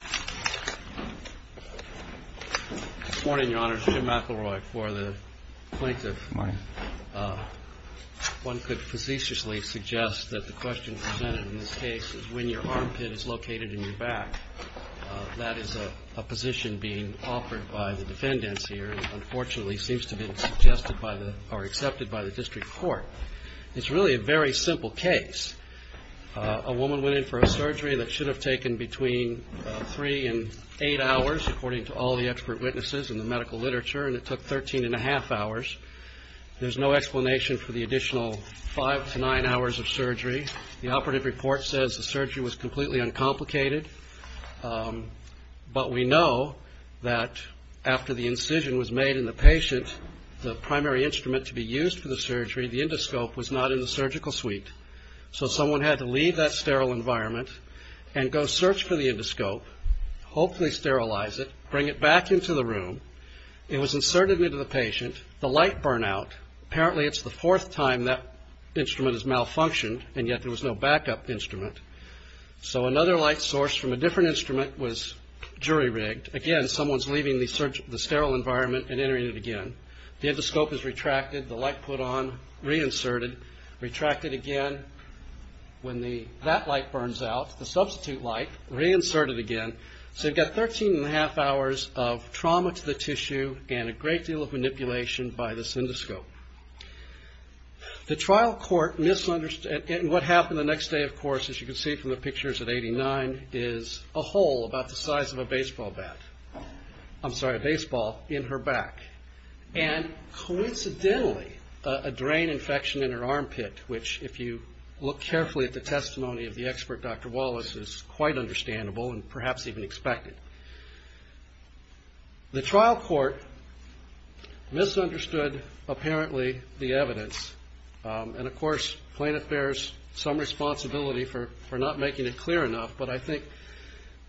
District Court, it's really a very simple case. A woman went in for a surgery that should have taken between 3 and 8 hours, according to all the expert witnesses and the medical literature, and it took 13 1⁄2 hours. There's no explanation for the additional 5 to 9 hours of surgery. The operative report says the surgery was completely uncomplicated, but we know that after the incision was made in the patient, the primary instrument to be used for the surgery, the endoscope, was not in the surgical suite. So someone had to leave that sterile environment and go search for the endoscope, hopefully sterilize it, bring it back into the room. It was inserted into the patient. The light burnt out. Apparently it's the fourth time that instrument has malfunctioned, and yet there was no backup instrument. So another light source from a different instrument was jury-rigged. Again, someone's leaving the sterile environment and entering it again. The endoscope is retracted, the light put on, reinserted, retracted again. When that light burns out, the substitute light, reinserted again. So you've got 13 1⁄2 hours of trauma to the tissue and a great deal of manipulation by the endoscope. The trial court misunderstood, and what happened the next day, of course, as you can see from the pictures at 89, is a hole about the size of a baseball bat. I'm sorry, a baseball in her back. And coincidentally, a drain infection in her armpit, which if you look carefully at the testimony of the expert, Dr. Wallace, is quite understandable and perhaps even expected. The trial court misunderstood, apparently, the evidence. And of course, plaintiff bears some responsibility for not making it clear enough, but I think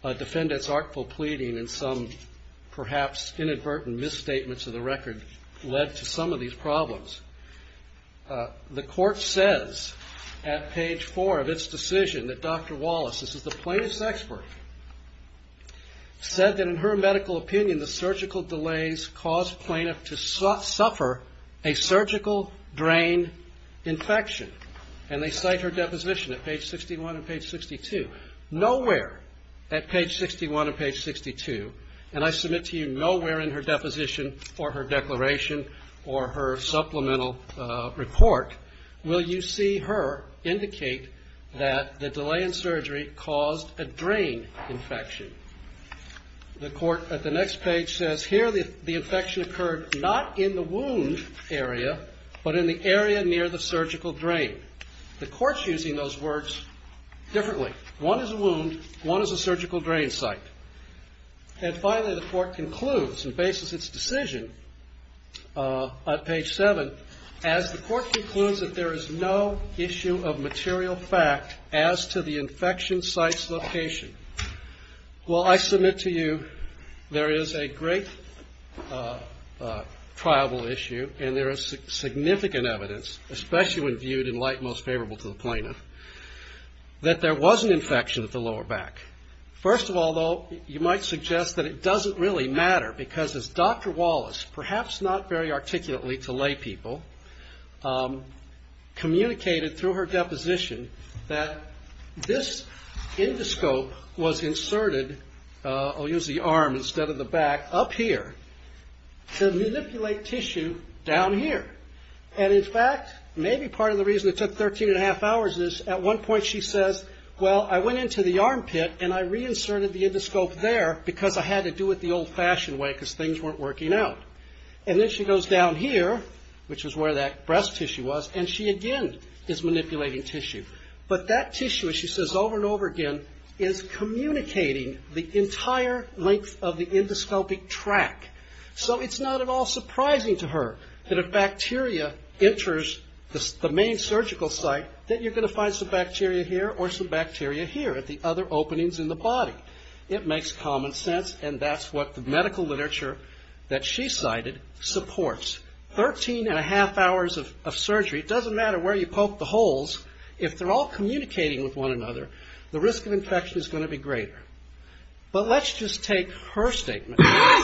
a defendant's artful pleading and some perhaps inadvertent misstatements of the record led to some of these problems. The court says at page 4 of its decision that Dr. Wallace, this is the plaintiff's expert, said that in her medical opinion, the surgical delays caused plaintiff to suffer a surgical drain infection. And they cite her deposition at page 61 and page 62. Nowhere at page 61 and page 62, and I submit to you nowhere in her deposition or her declaration or her supplemental report will you see her indicate that the delay in surgery caused a drain infection. The court at the next page says here the infection occurred not in the wound area, but in the area near the surgical drain. The court's using those words differently. One is a wound, one is a surgical drain site. And finally, the court concludes and bases its decision on page 7 as the court concludes that there is no issue of material fact as to the infection site's location. Well, I submit to you there is a great triable issue and there is significant evidence, especially when viewed in light most favorable to the plaintiff, that there was an infection at the lower back. First of all though, you might suggest that it doesn't really matter because as Dr. Wallace, perhaps not very articulately to lay people, communicated through her deposition that this endoscope was inserted, I'll use the arm instead of the back, up here to manipulate tissue down here. And in fact, maybe part of the reason it took 13 and a half hours is at one point she says, well I went into the armpit and I reinserted the endoscope there because I had to do it the old fashioned way because things weren't working out. And then she goes down here, which is where that breast tissue was, and she again is manipulating tissue. But that tissue, she says over and over again, is communicating the entire length of the endoscopic track. So it's not at all surprising to her that if bacteria enters the main surgical site, that you're going to find some bacteria here or some bacteria here at the other openings in the body. It makes common sense and that's what the medical literature that she cited supports. Thirteen and a half hours of surgery, it doesn't matter where you poke the holes, if they're all communicating with one another, the risk of infection is going to be greater. But let's just take her statement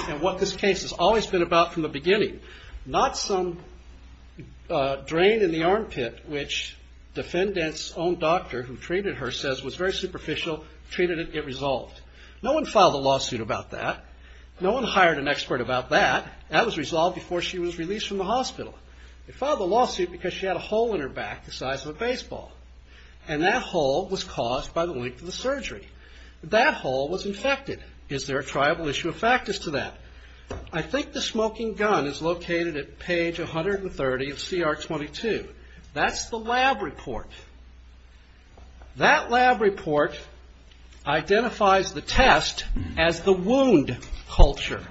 and what this case has always been about from the beginning. Not some drain in the armpit which defendant's own doctor who treated her says was very superficial, treated it, it resolved. No one filed a lawsuit about that. No one hired an expert about that. That was resolved before she was released from the hospital. They filed a lawsuit because she had a hole in her back the size of a baseball. And that hole was caused by the length of the surgery. That hole was infected. Is there a triable issue of factors to that? I think the smoking gun is located at page 130 of CR 22. That's the lab report. That lab report identifies the test as the wound culture.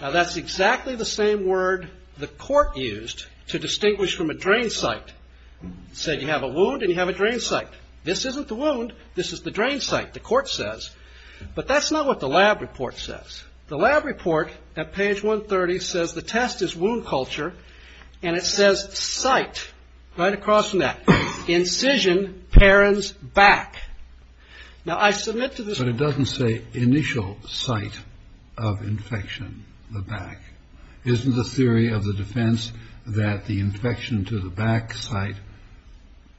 Now that's exactly the same word the court used to distinguish from a drain site. Said you have a wound and you have a drain site. This isn't the wound, this is the drain site, the court says. But that's not what the lab report says. The lab report at page 130 says the test is wound culture and it says site, right across from that. Incision, Perron's back. Now I submit to this court. But it doesn't say initial site of infection, the back. Isn't the theory of the defense that the infection to the back site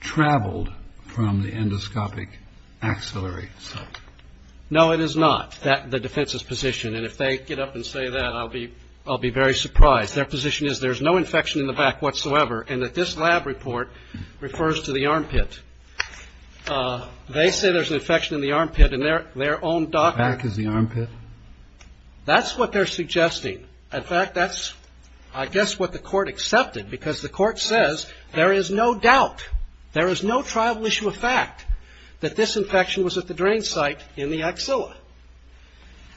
traveled from the endoscopic axillary site? No it is not, the defense's position. And if they get up and say that I'll be very surprised. Their position is there's no infection in the back whatsoever and that this lab report refers to the armpit. They say there's an infection in the armpit and their own doctor Back is the armpit? That's what they're suggesting. In fact that's I guess what the court accepted because the court says there is no doubt, there is no tribal issue of fact that this infection was at the drain site in the axilla.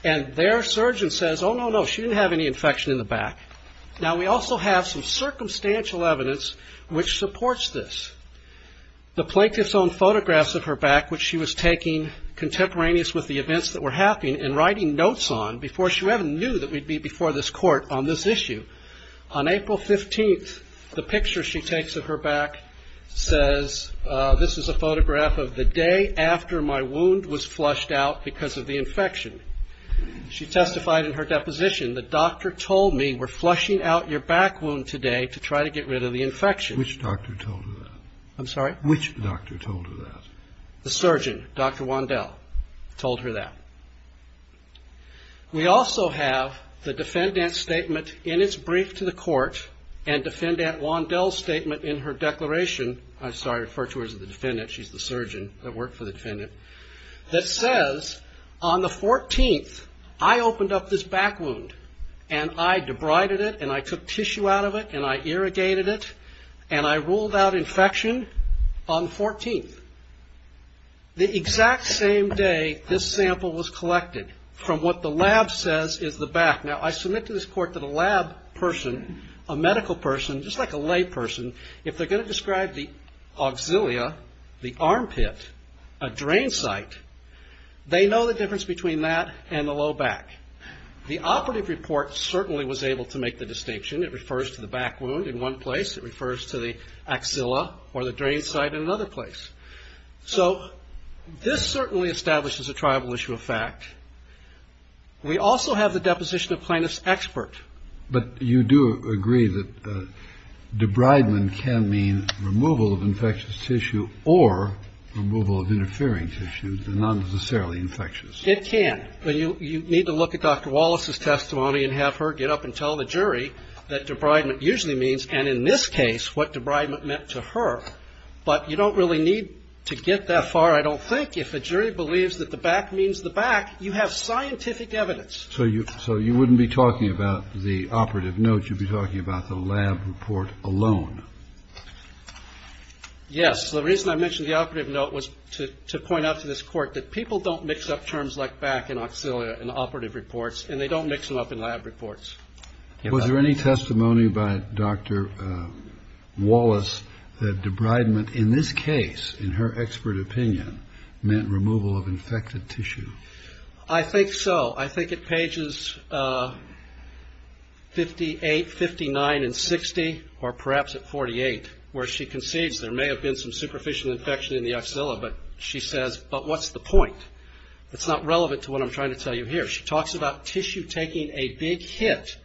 And their surgeon says oh no no she didn't have any infection in the back. Now we also have some circumstantial evidence which supports this. The plaintiff's own photographs of her back which she was taking contemporaneous with the events that were happening and writing notes on before she even knew that we'd be before this court on this issue. On April 15th the picture she takes of her back says this is a photograph of the day after my wound was flushed out because of the infection. She testified in her deposition the doctor told me we're flushing out your back wound today to try to get rid of the infection. Which doctor told her that? I'm sorry? Which doctor told her that? The surgeon, Dr. Wandel, told her that. We also have the defendant's statement in its brief to the court and defendant Wandel's statement in her declaration, I'm sorry referred to her as the defendant, she's the surgeon that worked for the defendant, that says on the 14th I opened up this back wound and I debrided it and I took tissue out of it and I irrigated it and I ruled out infection on the 14th. The exact same day this sample was collected from what the lab says is the back. Now I submit to this court that a lab person, a medical person, just like a lay person, if they're going to describe the auxilia, the armpit, a drain site, they know the difference between that and the low back. The operative report certainly was able to make the distinction. It refers to the back wound in one place, it refers to the auxilia or the drain site in another place. So this certainly establishes a tribal issue of fact. We also have the deposition of plaintiff's expert. But you do agree that debridement can mean removal of infectious tissue or removal of interfering tissue, not necessarily infectious. It can. You need to look at Dr. Wallace's testimony and have her get up and tell the jury that debridement usually means, and in this case, what debridement meant to her. But you don't really need to get that far, I don't think. If a jury believes that the back means the back, you have scientific evidence. So you wouldn't be talking about the operative note, you'd be talking about the lab report alone. Yes. The reason I mentioned the operative note was to point out to this court that people don't mix up terms like back and auxilia in operative reports, and they don't mix them up in lab reports. Was there any testimony by Dr. Wallace that debridement in this case, in her expert opinion, meant removal of infected tissue? I think so. I think at pages 58, 59, and 60, or perhaps at 48, where she concedes there may have been some superficial infection in the auxilia, but she says, but what's the point? It's not relevant to what I'm trying to tell you here. She talks about tissue taking a big hit,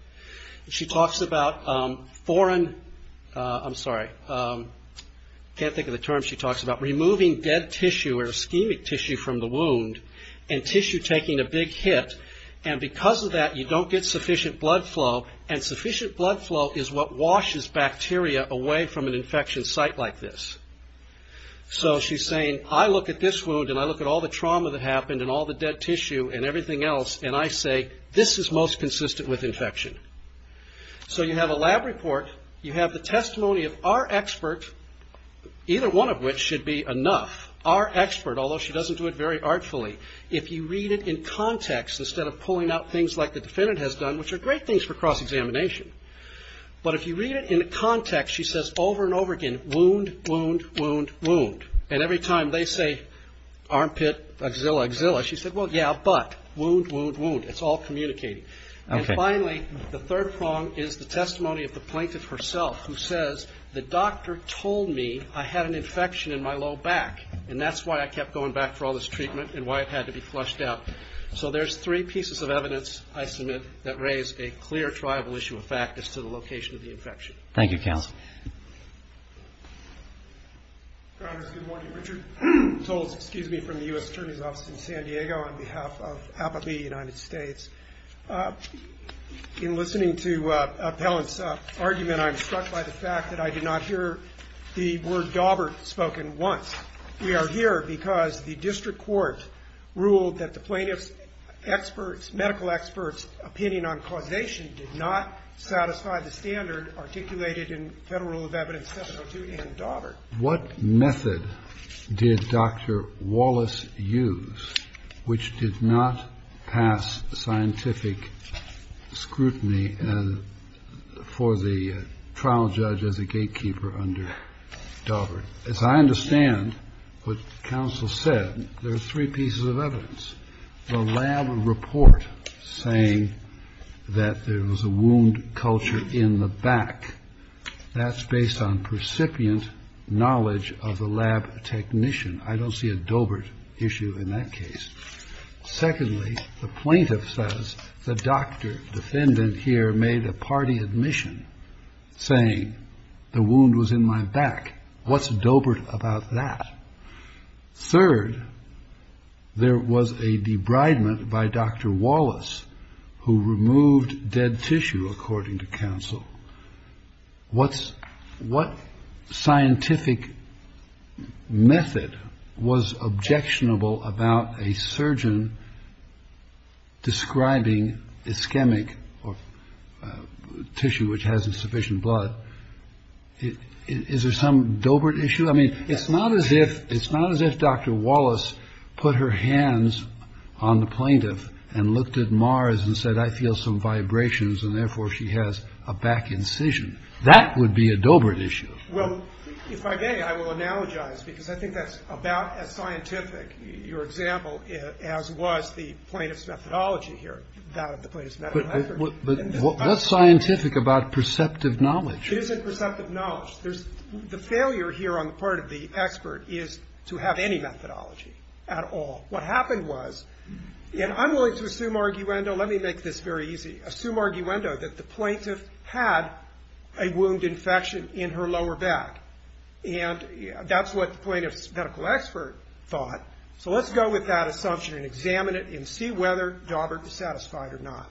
and she talks about foreign, I'm sorry, I can't think of the term she talks about, removing dead tissue or ischemic tissue from the wound, and tissue taking a big hit, and because of that, you don't get sufficient blood flow, and sufficient blood flow is what happens. So she's saying, I look at this wound, and I look at all the trauma that happened, and all the dead tissue, and everything else, and I say, this is most consistent with infection. So you have a lab report, you have the testimony of our expert, either one of which should be enough, our expert, although she doesn't do it very artfully, if you read it in context, instead of pulling out things like the defendant has done, which are great things for cross-examination, but if you read it in context, she says over and over again, wound, wound, wound, wound, and every time they say armpit, axilla, axilla, she said, well, yeah, but, wound, wound, wound, it's all communicating. And finally, the third prong is the testimony of the plaintiff herself, who says, the doctor told me I had an infection in my low back, and that's why I kept going back for all this treatment, and why it had to be flushed out. So there's three pieces of evidence, I submit, that raise a clear tribal issue of fact as to the location of the infection. Thank you, counsel. Congress, good morning. Richard Toles, excuse me, from the U.S. Attorney's Office in San Diego, on behalf of APABI United States. In listening to Appellant's argument, I'm struck by the fact that I did not hear the word daubert spoken once. We are here because the district Thank you. Thank you. Thank you. Thank you. Thank you. Thank you. Thank you. Thank you. Thank you. Thank you. And to conclude, the medical experts' opinion on causation did not satisfy the standard articulated in Federal Rule of Evidence 702 and daubert. What method did Dr. Wallis use which did not pass the scientific scrutiny for the trial judge as a gatekeeper under daubert? As I understand what counsel said, there's three cases. First, there was a report saying that there was a wound culture in the back. That's based on percipient knowledge of the lab technician. I don't see a daubert issue in that case. Secondly, the plaintiff says the doctor defendant here made a party admission saying the wound was in my back. What's daubert about that? Third, there was a debridement by Dr. Wallis who removed dead tissue, according to counsel. What scientific method was objectionable about a surgeon describing ischemic tissue which has insufficient blood? Is there some daubert issue? I mean, it's not as if Dr. Wallis put her hands on the plaintiff and looked at Mars and said, I feel some vibrations, and therefore she has a back incision. That would be a daubert issue. Well, if I may, I will analogize, because I think that's about as scientific, your example, as was the plaintiff's methodology here, that of the plaintiff's medical effort. But what's scientific about perceptive knowledge? It isn't perceptive knowledge. There's the failure here on the part of the expert is to have any methodology at all. What happened was, and I'm willing to assume arguendo let me make this very easy. Assume arguendo that the plaintiff had a wound infection in her lower back. And that's what the plaintiff's medical expert thought. So let's go with that assumption and examine it and see whether daubert was satisfied or not.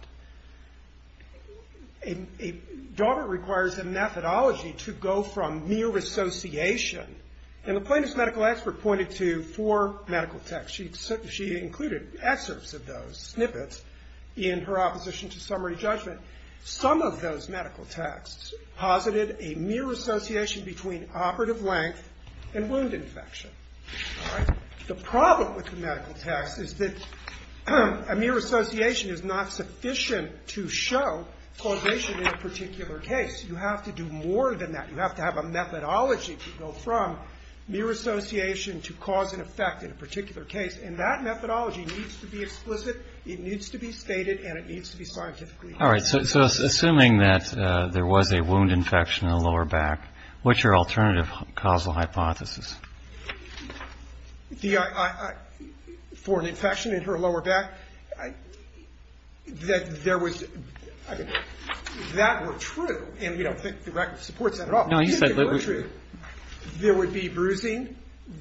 A daubert requires a methodology to go from mere association. And the plaintiff's medical expert pointed to four medical texts. She included excerpts of those snippets in her opposition to summary judgment. Some of those medical texts posited a mere association between operative length and wound infection. The problem with the medical text is that a mere association is not sufficient to show causation in a particular case. You have to do more than that. You have to have a methodology to go from mere association to cause and effect in a particular case. And that methodology needs to be explicit, it needs to be stated, and it needs to be scientifically proven. All right. So assuming that there was a wound infection in her lower back, what's your alternative causal hypothesis? For an infection in her lower back, that there was that were true. And we don't think the fact that supports that at all. No, you said that were true. There would be bruising.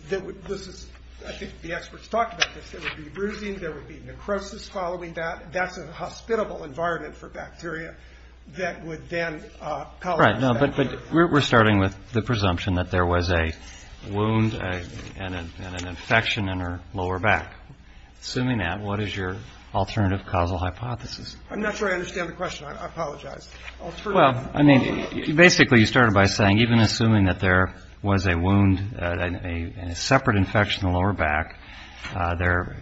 This is, I think the experts talked about this. There would be bruising, there would be necrosis following that. That's a hospitable environment for bacteria that would then cause... Right. No, but we're starting with the presumption that there was a wound and an infection in her lower back. Assuming that, what is your alternative causal hypothesis? I'm not sure I understand the question. I apologize. Well, I mean, basically you started by saying even assuming that there was a wound and a separate infection in the lower back,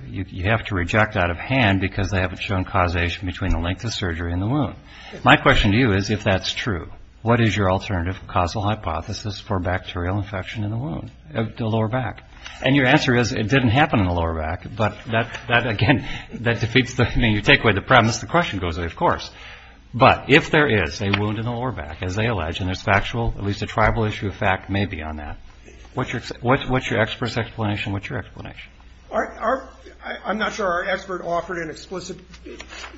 you have to reject out of hand because they haven't shown causation between the length of surgery and the wound. My question to you is if that's true, what is your alternative causal hypothesis for bacterial infection in the lower back? And your answer is it didn't happen in the lower back, but that, again, that defeats the, I mean, you take away the premise, the question goes away, of course. But if there is a wound in the lower back, as they allege, and there's factual, at least a tribal issue of fact may be on that, what's your expert's explanation? What's your explanation? I'm not sure our expert offered an explicit,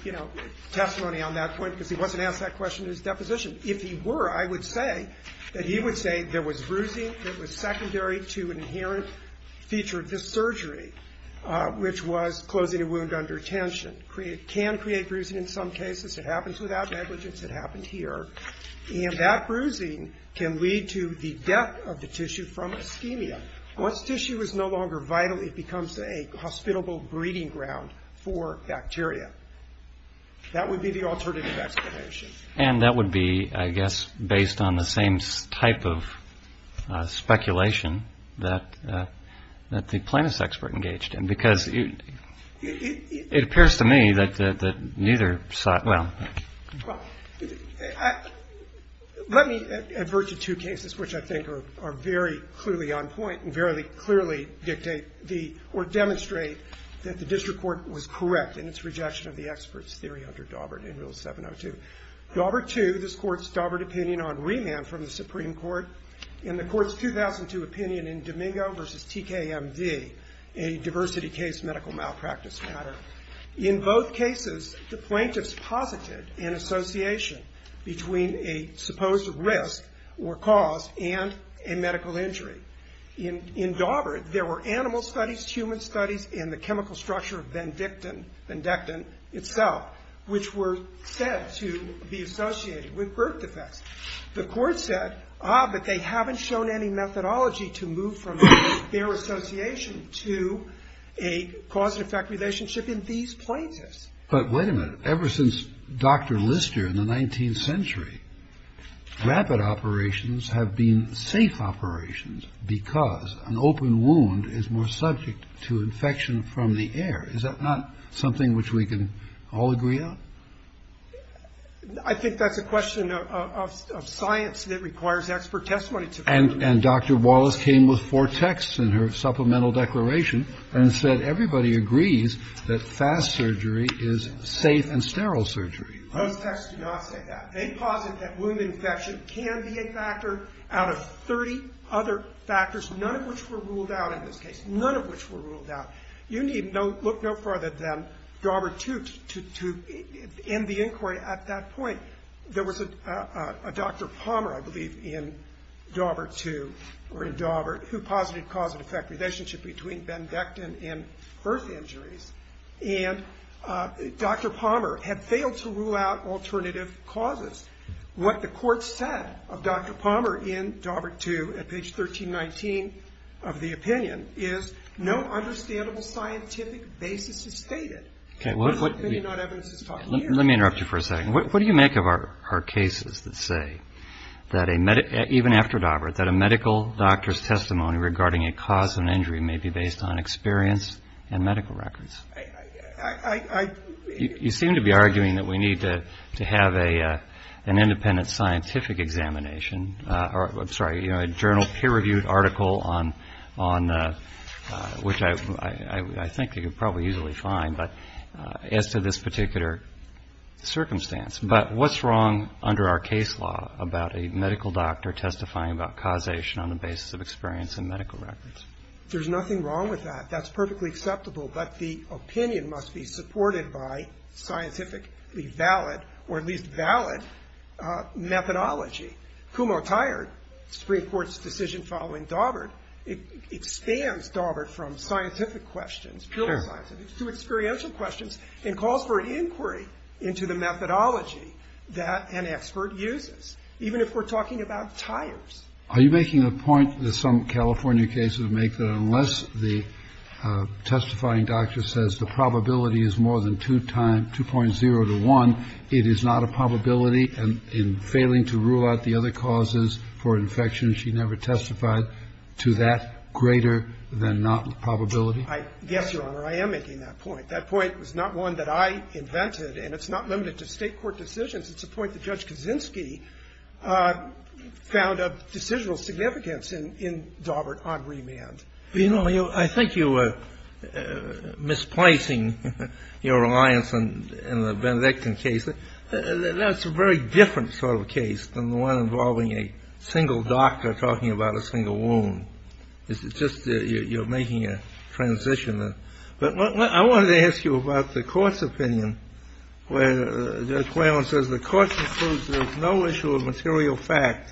you know, testimony on that point because he wasn't asked that question in his deposition. If he were, I would say that he would say there was bruising that was secondary to an inherent feature of this surgery, which was closing a wound under tension. It can create bruising in some cases. It happens without negligence. It happened here. And that bruising can lead to the death of the tissue from ischemia. Once tissue is no longer vital, it becomes a hospitable breeding ground for bacteria. That would be the alternative explanation. And that would be, I guess, based on the same type of speculation that the plaintiff's expert engaged in because it appears to me that neither side, well. Well, let me advert to two cases which I think are very clearly on point and very clearly dictate the, or demonstrate that the district court was correct in its rejection of the expert's theory under Dawbert in Rule 702. Dawbert 2, this Court's Dawbert opinion on remand from the Supreme Court, and the Court's 2002 opinion in Domingo v. TKMD, a diversity case medical malpractice matter. In both cases, the plaintiffs posited an association between a supposed risk or cause and a medical injury. In Dawbert, there were animal studies, human studies, and the chemical structure of Vendictin, Vendictin itself, which were said to be associated with birth defects. The Court said, ah, but they haven't shown any methodology to move from their association to a cause and effect relationship in these plaintiffs. Kennedy. But wait a minute. Ever since Dr. Lister in the 19th century, rapid operations have been safe operations because an open wound is more subject to infection from the air. Is that not something which we can all agree on? I think that's a question of science that requires expert testimony. And Dr. Wallace came with four texts in her supplemental declaration and said everybody agrees that fast surgery is safe and sterile surgery. Those texts do not say that. They posit that wound infection can be a factor out of 30 other factors, none of which were ruled out in this case, none of which were ruled out. You need look no further than Dawbert II to end the inquiry at that point. There was a Dr. Palmer, I believe, in Dawbert II or in Dawbert who posited cause and effect relationship between Vendictin and birth injuries. And Dr. Palmer had failed to rule out alternative causes. What the Court said of Dr. Palmer in Dawbert II at page 1319 of the opinion is no understandable scientific basis is stated. Maybe not evidence is taught here. Let me interrupt you for a second. What do you make of our cases that say that even after Dawbert that a medical doctor's testimony regarding a cause of an injury may be based on experience and medical records? You seem to be arguing that we need to have an independent scientific examination or, I'm sorry, a journal peer-reviewed article on which I think you could probably easily find, but as to this particular circumstance. But what's wrong under our case law about a medical doctor testifying about causation on the basis of experience and medical records? There's nothing wrong with that. That's perfectly acceptable, but the opinion must be supported by scientifically valid or at least valid methodology. Kumho-Tired, Supreme Court's decision following Dawbert, expands Dawbert from scientific questions, purely scientific, to experiential questions and calls for an inquiry into the methodology that an expert uses, even if we're talking about tires. Are you making a point that some California cases make that unless the testifying doctor says the probability is more than 2.0 to 1, it is not a probability, and in failing to rule out the other causes for infection, she never testified to that greater-than-not probability? Yes, Your Honor, I am making that point. That point was not one that I invented, and it's not limited to State court decisions. It's a point that Judge Kaczynski found of decisional significance in Dawbert on remand. But, you know, I think you were misplacing your reliance on the Benedictine case. That's a very different sort of case than the one involving a single doctor talking about a single wound. It's just you're making a transition. But I wanted to ask you about the court's opinion where Judge Whalen says, the court concludes there is no issue of material fact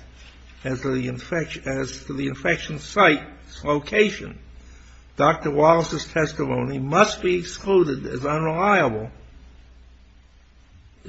as to the infection site's location. Dr. Wallace's testimony must be excluded as unreliable.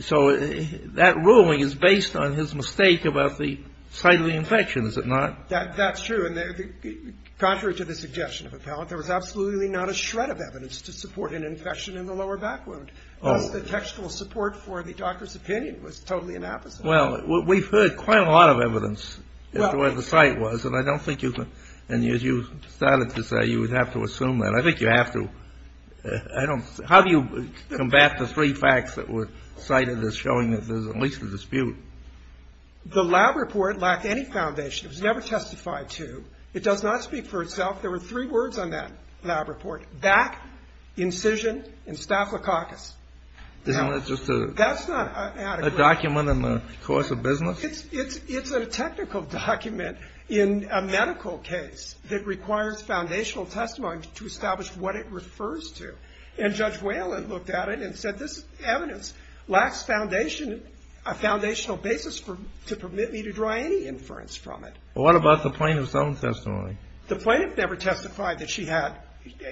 So that ruling is based on his mistake about the site of the infection, is it not? That's true. And contrary to the suggestion of appellant, there was absolutely not a shred of evidence to support an infection in the lower back wound. The textual support for the doctor's opinion was totally inappropriate. Well, we've heard quite a lot of evidence as to where the site was, and I don't think you can and you started to say you would have to assume that. I think you have to. I don't. How do you combat the three facts that were cited as showing that there's at least a dispute? The lab report lacked any foundation. It was never testified to. It does not speak for itself. There were three words on that lab report. Back, incision, and staphylococcus. Isn't that just a document in the course of business? It's a technical document in a medical case that requires foundational testimony to establish what it refers to. And Judge Whalen looked at it and said this evidence lacks a foundational basis to permit me to draw any inference from it. What about the plaintiff's own testimony? The plaintiff never testified that she had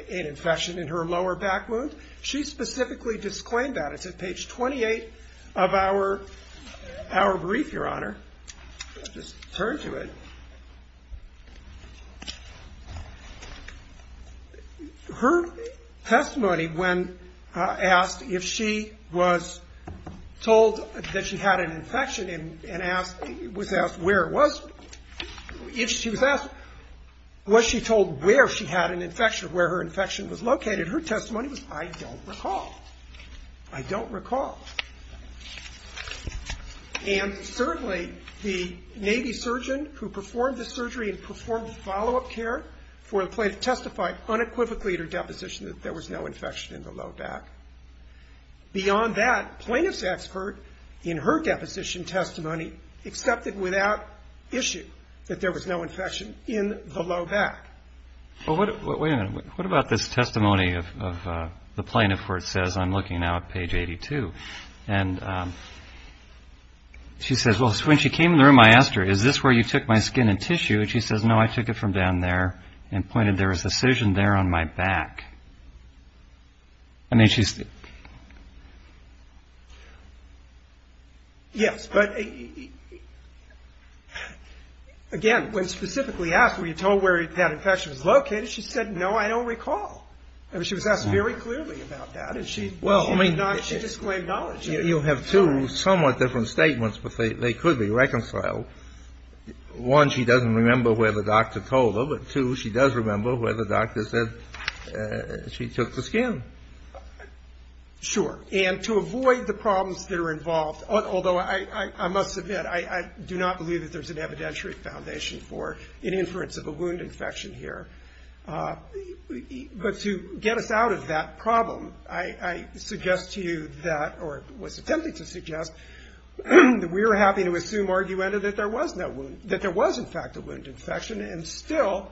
an infection in her lower back wound. She specifically disclaimed that. It's at page 28 of our brief, Your Honor. Let's just turn to it. Her testimony when asked if she was told that she had an infection and was asked where it was, if she was asked was she told where she had an infection, where her infection was located, her testimony was, I don't recall. I don't recall. And certainly the Navy surgeon who performed the surgery and performed follow-up care for the plaintiff testified unequivocally in her deposition that there was no infection in the low back. Beyond that, plaintiff's expert in her deposition testimony accepted without issue that there was no infection in the low back. Well, wait a minute. What about this testimony of the plaintiff where it says, I'm looking now at page 82, and she says, well, when she came in the room I asked her, is this where you took my skin and tissue? And she says, no, I took it from down there and pointed there was a scission there on my back. I mean, she's. Yes. But again, when specifically asked were you told where that infection was located, she said, no, I don't recall. I mean, she was asked very clearly about that. And she. Well, I mean. She disclaimed knowledge. You have two somewhat different statements, but they could be reconciled. One, she doesn't remember where the doctor told her. But two, she does remember where the doctor said she took the skin. Sure. And to avoid the problems that are involved, although I must admit, I do not believe that there's an evidentiary foundation for an inference of a wound infection here. But to get us out of that problem, I suggest to you that, or was attempting to suggest, that we are happy to assume argumentative that there was no wound, that there was, in fact, a wound infection. And still,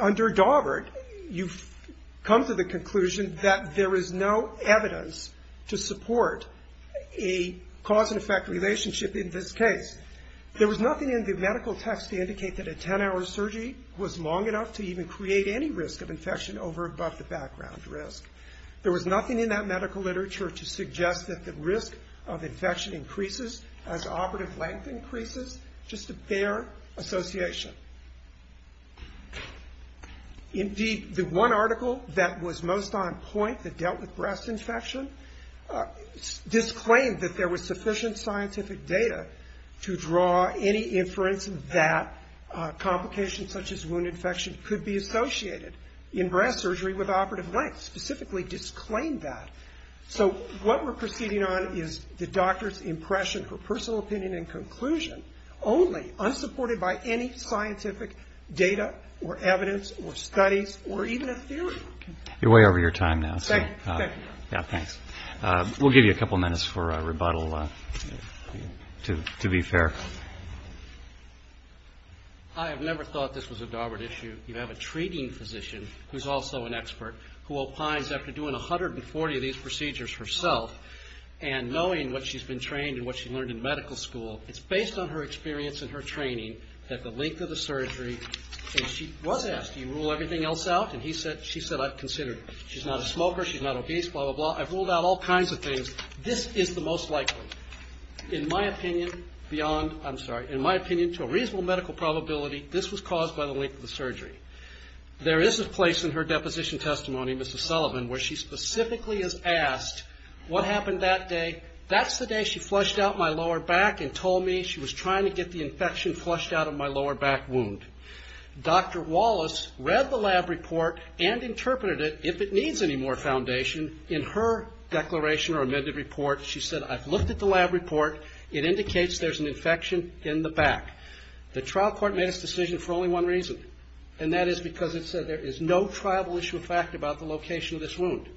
under Dawbert, you've come to the conclusion that there is no evidence to support a cause-and-effect relationship in this case. There was nothing in the medical text to indicate that a 10-hour surgery was long enough to even create any risk of infection over above the background risk. There was nothing in that medical literature to suggest that the risk of infection increases as operative length increases. Just a bare association. Indeed, the one article that was most on point that dealt with breast infection disclaimed that there was sufficient scientific data to draw any inference that complications such as wound infection could be associated in breast surgery with operative length. It specifically disclaimed that. So what we're proceeding on is the doctor's impression, her personal opinion and conclusion, only unsupported by any scientific data or evidence or studies or even a theory. You're way over your time now. Thank you. Yeah, thanks. We'll give you a couple minutes for rebuttal, to be fair. I have never thought this was a Dawbert issue. You have a treating physician who's also an expert who opines after doing 140 of these procedures herself and knowing what she's been trained and what she learned in medical school, it's based on her experience and her training that the length of the surgery, and she was asked, do you rule everything else out? And she said, I've considered it. She's not a smoker. She's not obese, blah, blah, blah. I've ruled out all kinds of things. This is the most likely, in my opinion, beyond, I'm sorry, in my opinion, to a reasonable medical probability, this was caused by the length of the surgery. There is a place in her deposition testimony, Mrs. Sullivan, where she specifically is asked, what happened that day? That's the day she flushed out my lower back and told me she was trying to get the infection flushed out of my lower back wound. Dr. Wallace read the lab report and interpreted it, if it needs any more foundation. In her declaration or amended report, she said, I've looked at the lab report. It indicates there's an infection in the back. The trial court made its decision for only one reason, and that is because it said there is no triable issue of fact about the location of this wound.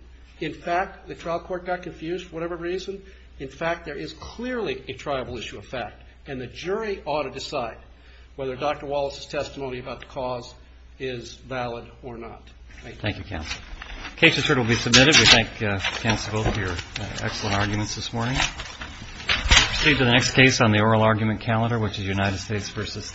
In fact, the trial court got confused for whatever reason. In fact, there is clearly a triable issue of fact, and the jury ought to decide whether Dr. Wallace's testimony about the cause is valid or not. Thank you. Thank you, counsel. The case is heard and will be submitted. We thank counsel both for your excellent arguments this morning. We'll proceed to the next case on the oral argument calendar, which is United States v. Thanks.